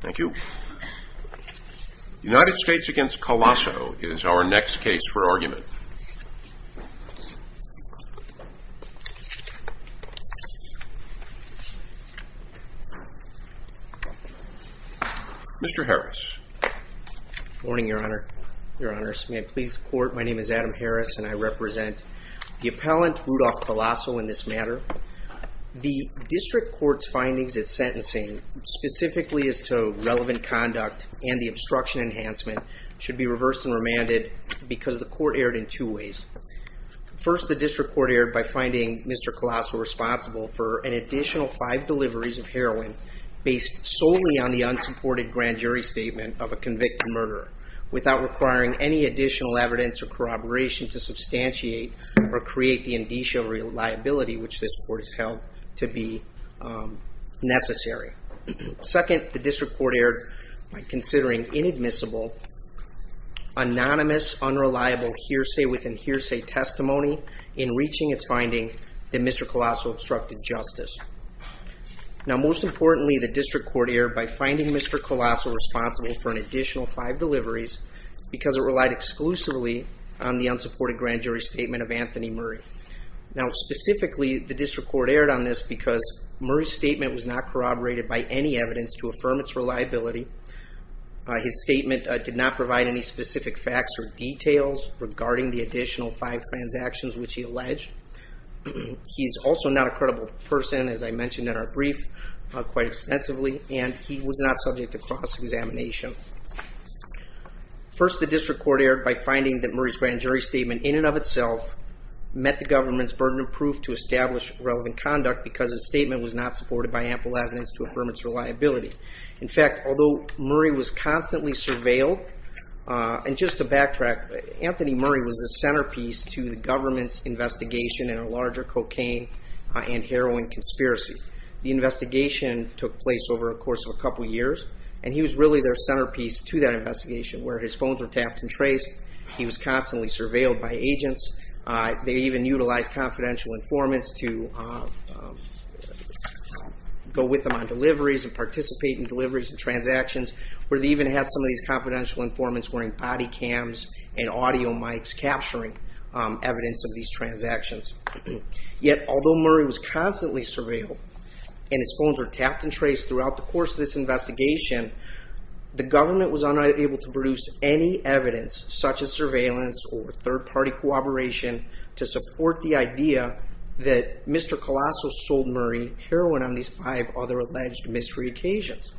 Thank you. United States v. Callaso is our next case for argument. Mr. Harris. Good morning, Your Honor. Your Honors, may it please the Court, my name is Adam Harris and I represent the appellant, Rudolph Callaso, in this matter. The District Court's findings at sentencing, specifically as to relevant conduct and the obstruction enhancement, should be reversed and remanded because the Court erred in two ways. First, the District Court erred by finding Mr. Callaso responsible for an additional five deliveries of heroin based solely on the unsupported grand jury statement of a convicted murderer, without requiring any additional evidence or corroboration to held to be necessary. Second, the District Court erred by considering inadmissible, anonymous, unreliable hearsay within hearsay testimony in reaching its findings that Mr. Callaso obstructed justice. Now, most importantly, the District Court erred by finding Mr. Callaso responsible for an additional five deliveries because it relied exclusively on the unsupported grand jury statement of Anthony Murray. Now, specifically, the District Court erred on this because Murray's statement was not corroborated by any evidence to affirm its reliability. His statement did not provide any specific facts or details regarding the additional five transactions which he alleged. He's also not a credible person, as I mentioned in our brief quite extensively, and he was not subject to cross-examination. First, the District Court erred by finding that Murray's grand jury statement, in and of itself, met the government's burden of proof to establish relevant conduct because his statement was not supported by ample evidence to affirm its reliability. In fact, although Murray was constantly surveilled, and just to backtrack, Anthony Murray was the centerpiece to the government's investigation in a larger cocaine and heroin conspiracy. The investigation took place over a course of a couple years, and he was really their centerpiece to that investigation where his statements were traced. He was constantly surveilled by agents. They even utilized confidential informants to go with them on deliveries and participate in deliveries and transactions, where they even had some of these confidential informants wearing body cams and audio mics capturing evidence of these transactions. Yet, although Murray was constantly surveilled and his phones were tapped and traced throughout the course of this investigation, the government was unable to produce any evidence, such as surveillance or third-party cooperation, to support the idea that Mr. Colasso sold Murray heroin on these five other alleged mystery occasions.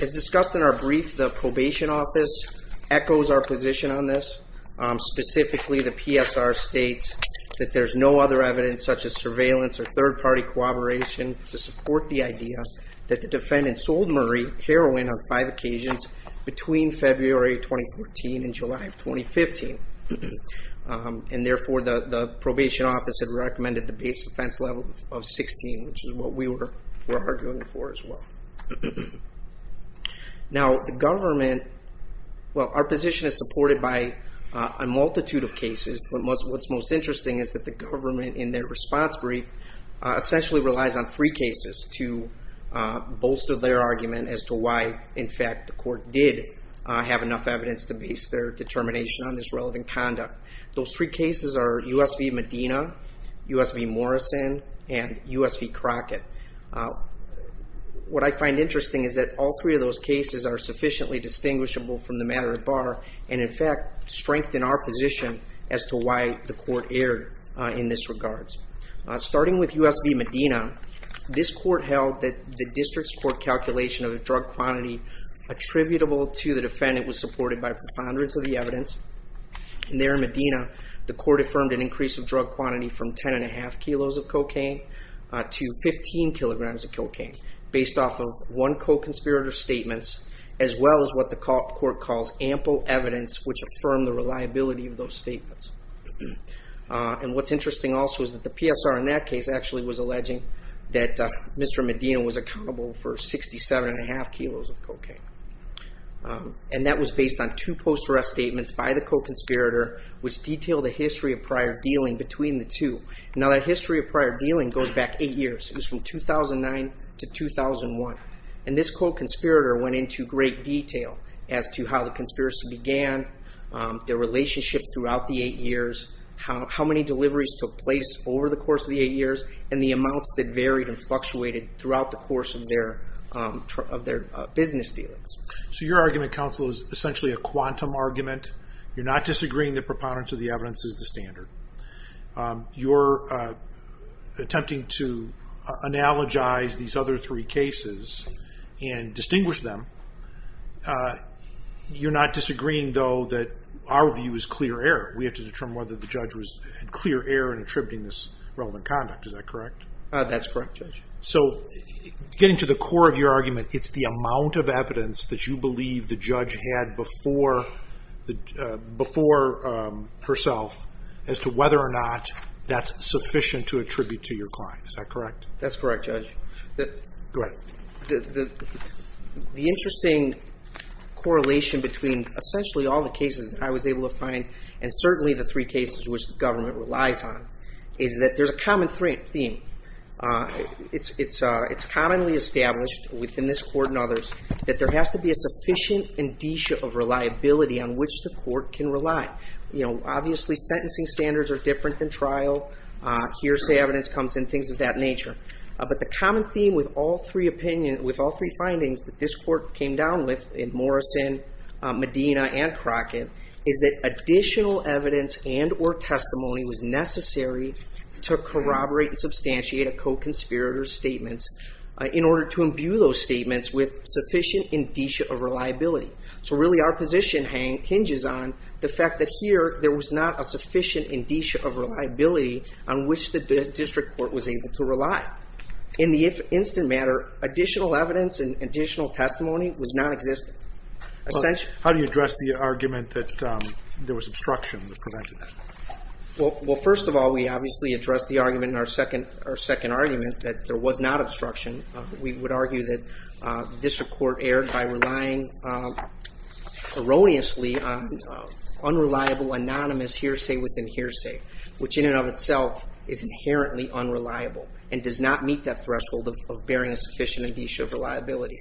As discussed in our brief, the Probation Office echoes our position on this. Specifically, the PSR states that there's no other evidence, such as surveillance or third-party cooperation, to support the idea that the defendant sold Murray heroin on five occasions between February 2014 and July of 2015. Therefore, the Probation Office had recommended the base offense level of 16, which is what we were arguing for as well. Our position is supported by a multitude of cases, but what's most interesting is that the government, in their response brief, essentially relies on three cases to bolster their argument as to why, in fact, the court did have enough evidence to base their determination on this relevant conduct. Those three cases are U.S. v. Medina, U.S. v. Morrison, and U.S. v. Crockett. What I find interesting is that all three of those cases are sufficiently distinguishable from the matter at bar and, in fact, strengthen our position as to why the court erred in this regards. Starting with U.S. v. Medina, this court held that the district's court calculation of the drug quantity attributable to the defendant was supported by preponderance of the evidence. There in Medina, the court affirmed an increase of drug quantity from 10.5 kilos of cocaine to 15 kilograms of cocaine, based off of one co-conspirator's statements, as well as what the court calls ample evidence which affirmed the reliability of those statements. What's interesting also is that the PSR in that case actually was alleging that Mr. Medina was accountable for 67.5 kilos of cocaine. That was based on two post-arrest statements by the co-conspirator, which detailed the history of prior dealing between the two. Now, that history of prior dealing goes back eight years. It was from 2009 to 2001. This co-conspirator went into great detail as to how the conspiracy began, their relationship throughout the eight years, how many deliveries took place over the course of the eight years, and the amounts that varied and fluctuated throughout the course of their business dealings. So your argument, counsel, is essentially a quantum argument. You're not disagreeing that preponderance of the evidence is the standard. You're attempting to analogize these other three cases and distinguish them. You're not disagreeing, though, that our view is clear error. We have to determine whether the judge was clear error in attributing this relevant conduct. Is that correct? That's correct, Judge. So getting to the core of your argument, it's the amount of evidence that you believe the judge had before herself as to whether or not that's sufficient to attribute to your client. Is that correct? That's correct, Judge. Go ahead. The interesting correlation between essentially all the cases that I was able to find and certainly the three cases which the government relies on is that there's a common theme. It's commonly established within this court and others that there has to be a sufficient indicia of reliability on which the court can rely. Obviously, sentencing standards are different than trial. Hearsay evidence comes in, things of that nature. But the common theme with all three findings that this court came down with in Morrison, Medina, and Crockett is that additional evidence and or testimony was necessary to corroborate and substantiate a co-conspirator's statements in order to imbue those statements with sufficient indicia of reliability. So really our position hinges on the fact that here there was not a sufficient indicia of reliability on which the district court was able to rely. In the instant matter, additional evidence and additional testimony was nonexistent. How do you address the argument that there was obstruction that prevented that? Well, first of all, we obviously addressed the argument in our second argument that there was erroneously unreliable, anonymous hearsay within hearsay, which in and of itself is inherently unreliable and does not meet that threshold of bearing a sufficient indicia of reliability.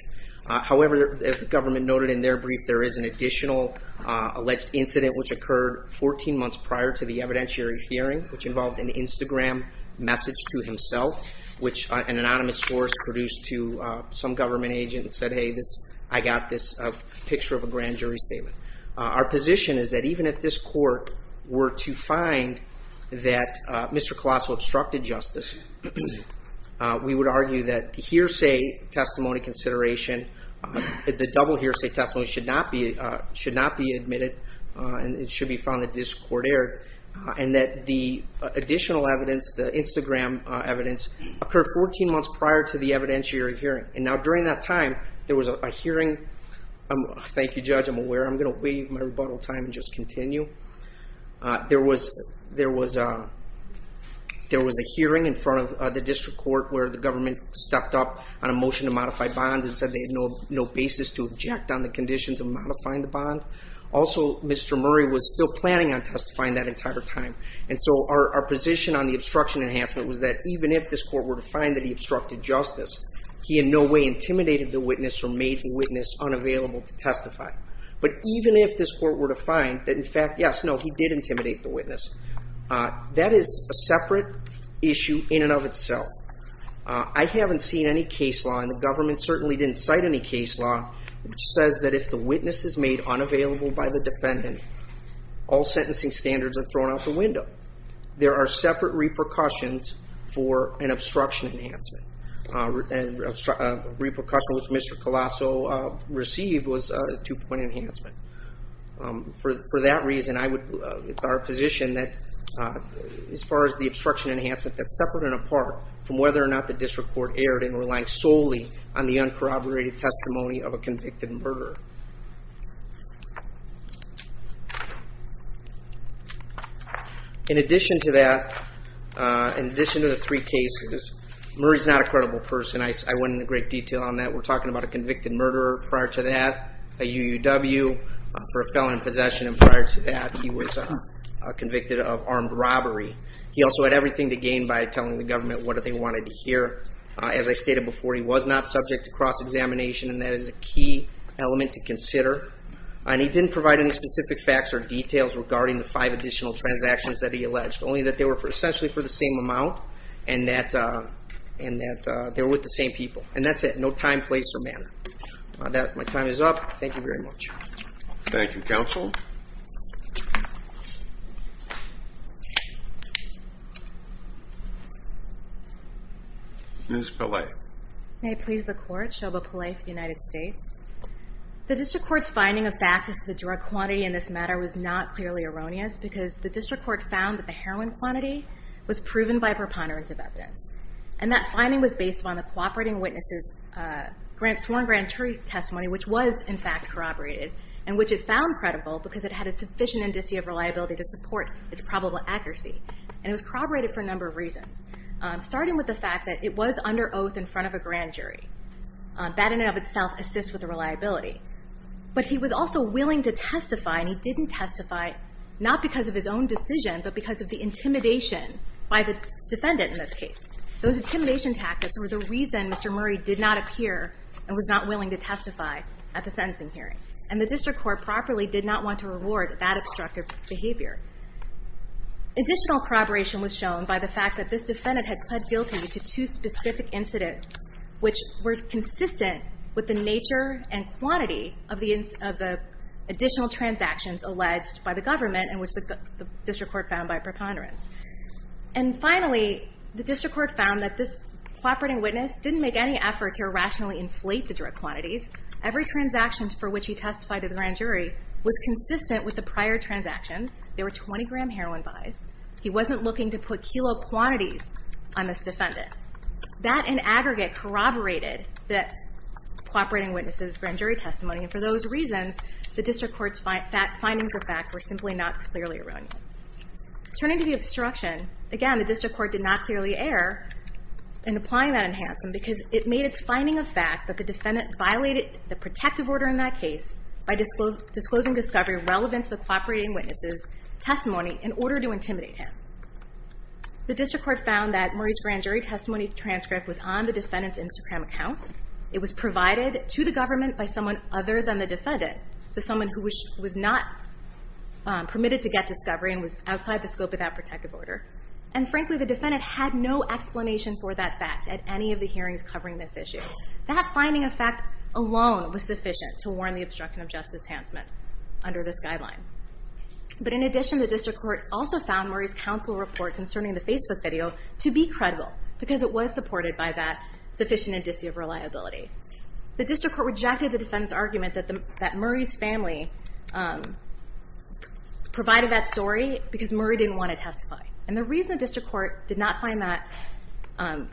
However, as the government noted in their brief, there is an additional alleged incident which occurred 14 months prior to the evidentiary hearing, which involved an Instagram message to himself, which an anonymous source produced to some government agent and said, hey, I got this picture of a grand jury statement. Our position is that even if this court were to find that Mr. Colosso obstructed justice, we would argue that the hearsay testimony consideration, the double hearsay testimony should not be admitted and it should be found that this court erred, and that the additional evidence, the Instagram evidence, occurred 14 months prior to the evidentiary hearing. Now, during that time, there was a hearing. Thank you, Judge, I'm aware. I'm going to waive my rebuttal time and just continue. There was a hearing in front of the district court where the government stepped up on a motion to modify bonds and said they had no basis to object on the conditions of modifying the bond. Also, Mr. Murray was still planning on testifying that entire time. Our position on the obstruction enhancement was that even if this court were to find that he obstructed justice, he in no way intimidated the witness or made the witness unavailable to testify. But even if this court were to find that, in fact, yes, no, he did intimidate the witness, that is a separate issue in and of itself. I haven't seen any case law, and the government certainly didn't cite any case law, which says that if the witness is made unavailable by the defendant, all sentencing standards are thrown out the window. There are separate repercussions for an obstruction enhancement. Repercussion, which Mr. Colasso received, was a two-point enhancement. For that reason, it's our position that as far as the obstruction enhancement, that's separate and apart from whether or not the district court erred in relying solely on the uncorroborated testimony of a convicted murderer. In addition to that, in addition to the three cases, Murray's not a credible person. I went into great detail on that. We're talking about a convicted murderer prior to that, a UUW for a felon in possession, and prior to that, he was convicted of armed robbery. He also had everything to gain by telling the government what they wanted to hear. As I stated before, he was not subject to cross-examination, and that is a key element to consider. He didn't provide any specific facts or details regarding the five additional transactions that he alleged, only that they were essentially for the same amount, and that they were with the same people. That's it. No time, place, or manner. My time is up. Thank you very much. Thank you, counsel. Ms. Pillay. May it please the court, Shoba Pillay for the United States. The district court's finding of fact as to the drug quantity in this matter was not clearly erroneous because the district court found that the heroin quantity was proven by preponderance of evidence, and that finding was based on the cooperating witness's sworn grand jury testimony, which was in fact corroborated, and which it found credible because it had a sufficient indicia of reliability to support its probable accuracy, and it was corroborated for a number of reasons, starting with the fact that it was under oath in front of a grand jury. That in and of itself assists with the reliability, but he was also willing to testify, and he didn't testify not because of his own decision, but because of the intimidation by the defendant in this case. Those intimidation tactics were the reason Mr. Murray did not appear and was not willing to testify at the sentencing hearing, and the district court properly did not want to reward that obstructive behavior. Additional corroboration was shown by the fact that this defendant had pled guilty to two specific incidents, which were consistent with the nature and quantity of the additional transactions alleged by the government, and which the district court found by preponderance. And finally, the district court found that this cooperating witness didn't make any effort to irrationally inflate the drug quantities. Every transaction for which he testified to the grand jury was consistent with the prior transactions. There were 20 gram heroin buys. He wasn't looking to put kilo quantities on this defendant. That in aggregate corroborated the cooperating witness's grand jury testimony, and for those reasons, the district court's findings of fact were simply not clearly erroneous. Turning to the obstruction, again, the district court did not clearly err in applying that enhancement because it made its finding of fact that the defendant violated the protective order in that case by disclosing discovery relevant to the cooperating witness's testimony in order to intimidate him. The district court found that Murray's grand jury testimony transcript was on the defendant's Instagram account. It was provided to the government by someone other than the defendant, so someone who was not permitted to get discovery and was outside the scope of that protective order. And frankly, the defendant had no explanation for that fact at any of the hearings covering this issue. That finding of fact alone was sufficient to warn the obstruction of justice enhancement under this guideline. But in addition, the district court also found Murray's counsel report concerning the Facebook video to be credible because it was supported by that sufficient indicia of reliability. The district court rejected the defendant's argument that Murray's family provided that story because Murray didn't want to testify. And the reason the district court did not find that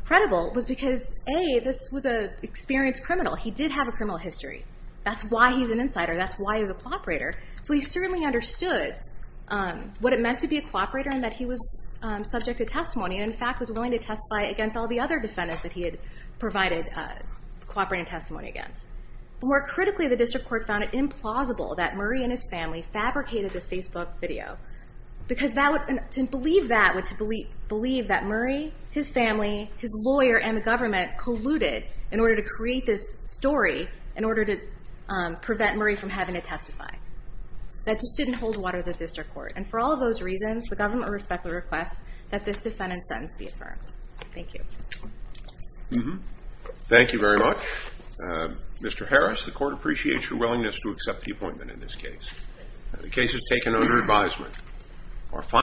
credible was because, A, this was an experienced criminal. He did have a criminal history. That's why he's an insider. That's why he's a cooperator. So he certainly understood what it meant to be a cooperator and that he was subject to testimony and, in fact, was willing to testify against all the other defendants that he had provided cooperative testimony against. More critically, the district court found it implausible that Murray and his family fabricated this Facebook video because to believe that would to believe that Murray, his family, his lawyer, and the government colluded in order to create this story in order to prevent Murray from having to testify. That just didn't hold water with the district court. And for all of those reasons, the government respectfully requests that this defendant's sentence be affirmed. Thank you. Thank you very much. Mr. Harris, the court appreciates your willingness to accept the appointment in this case. The case is taken under advisement.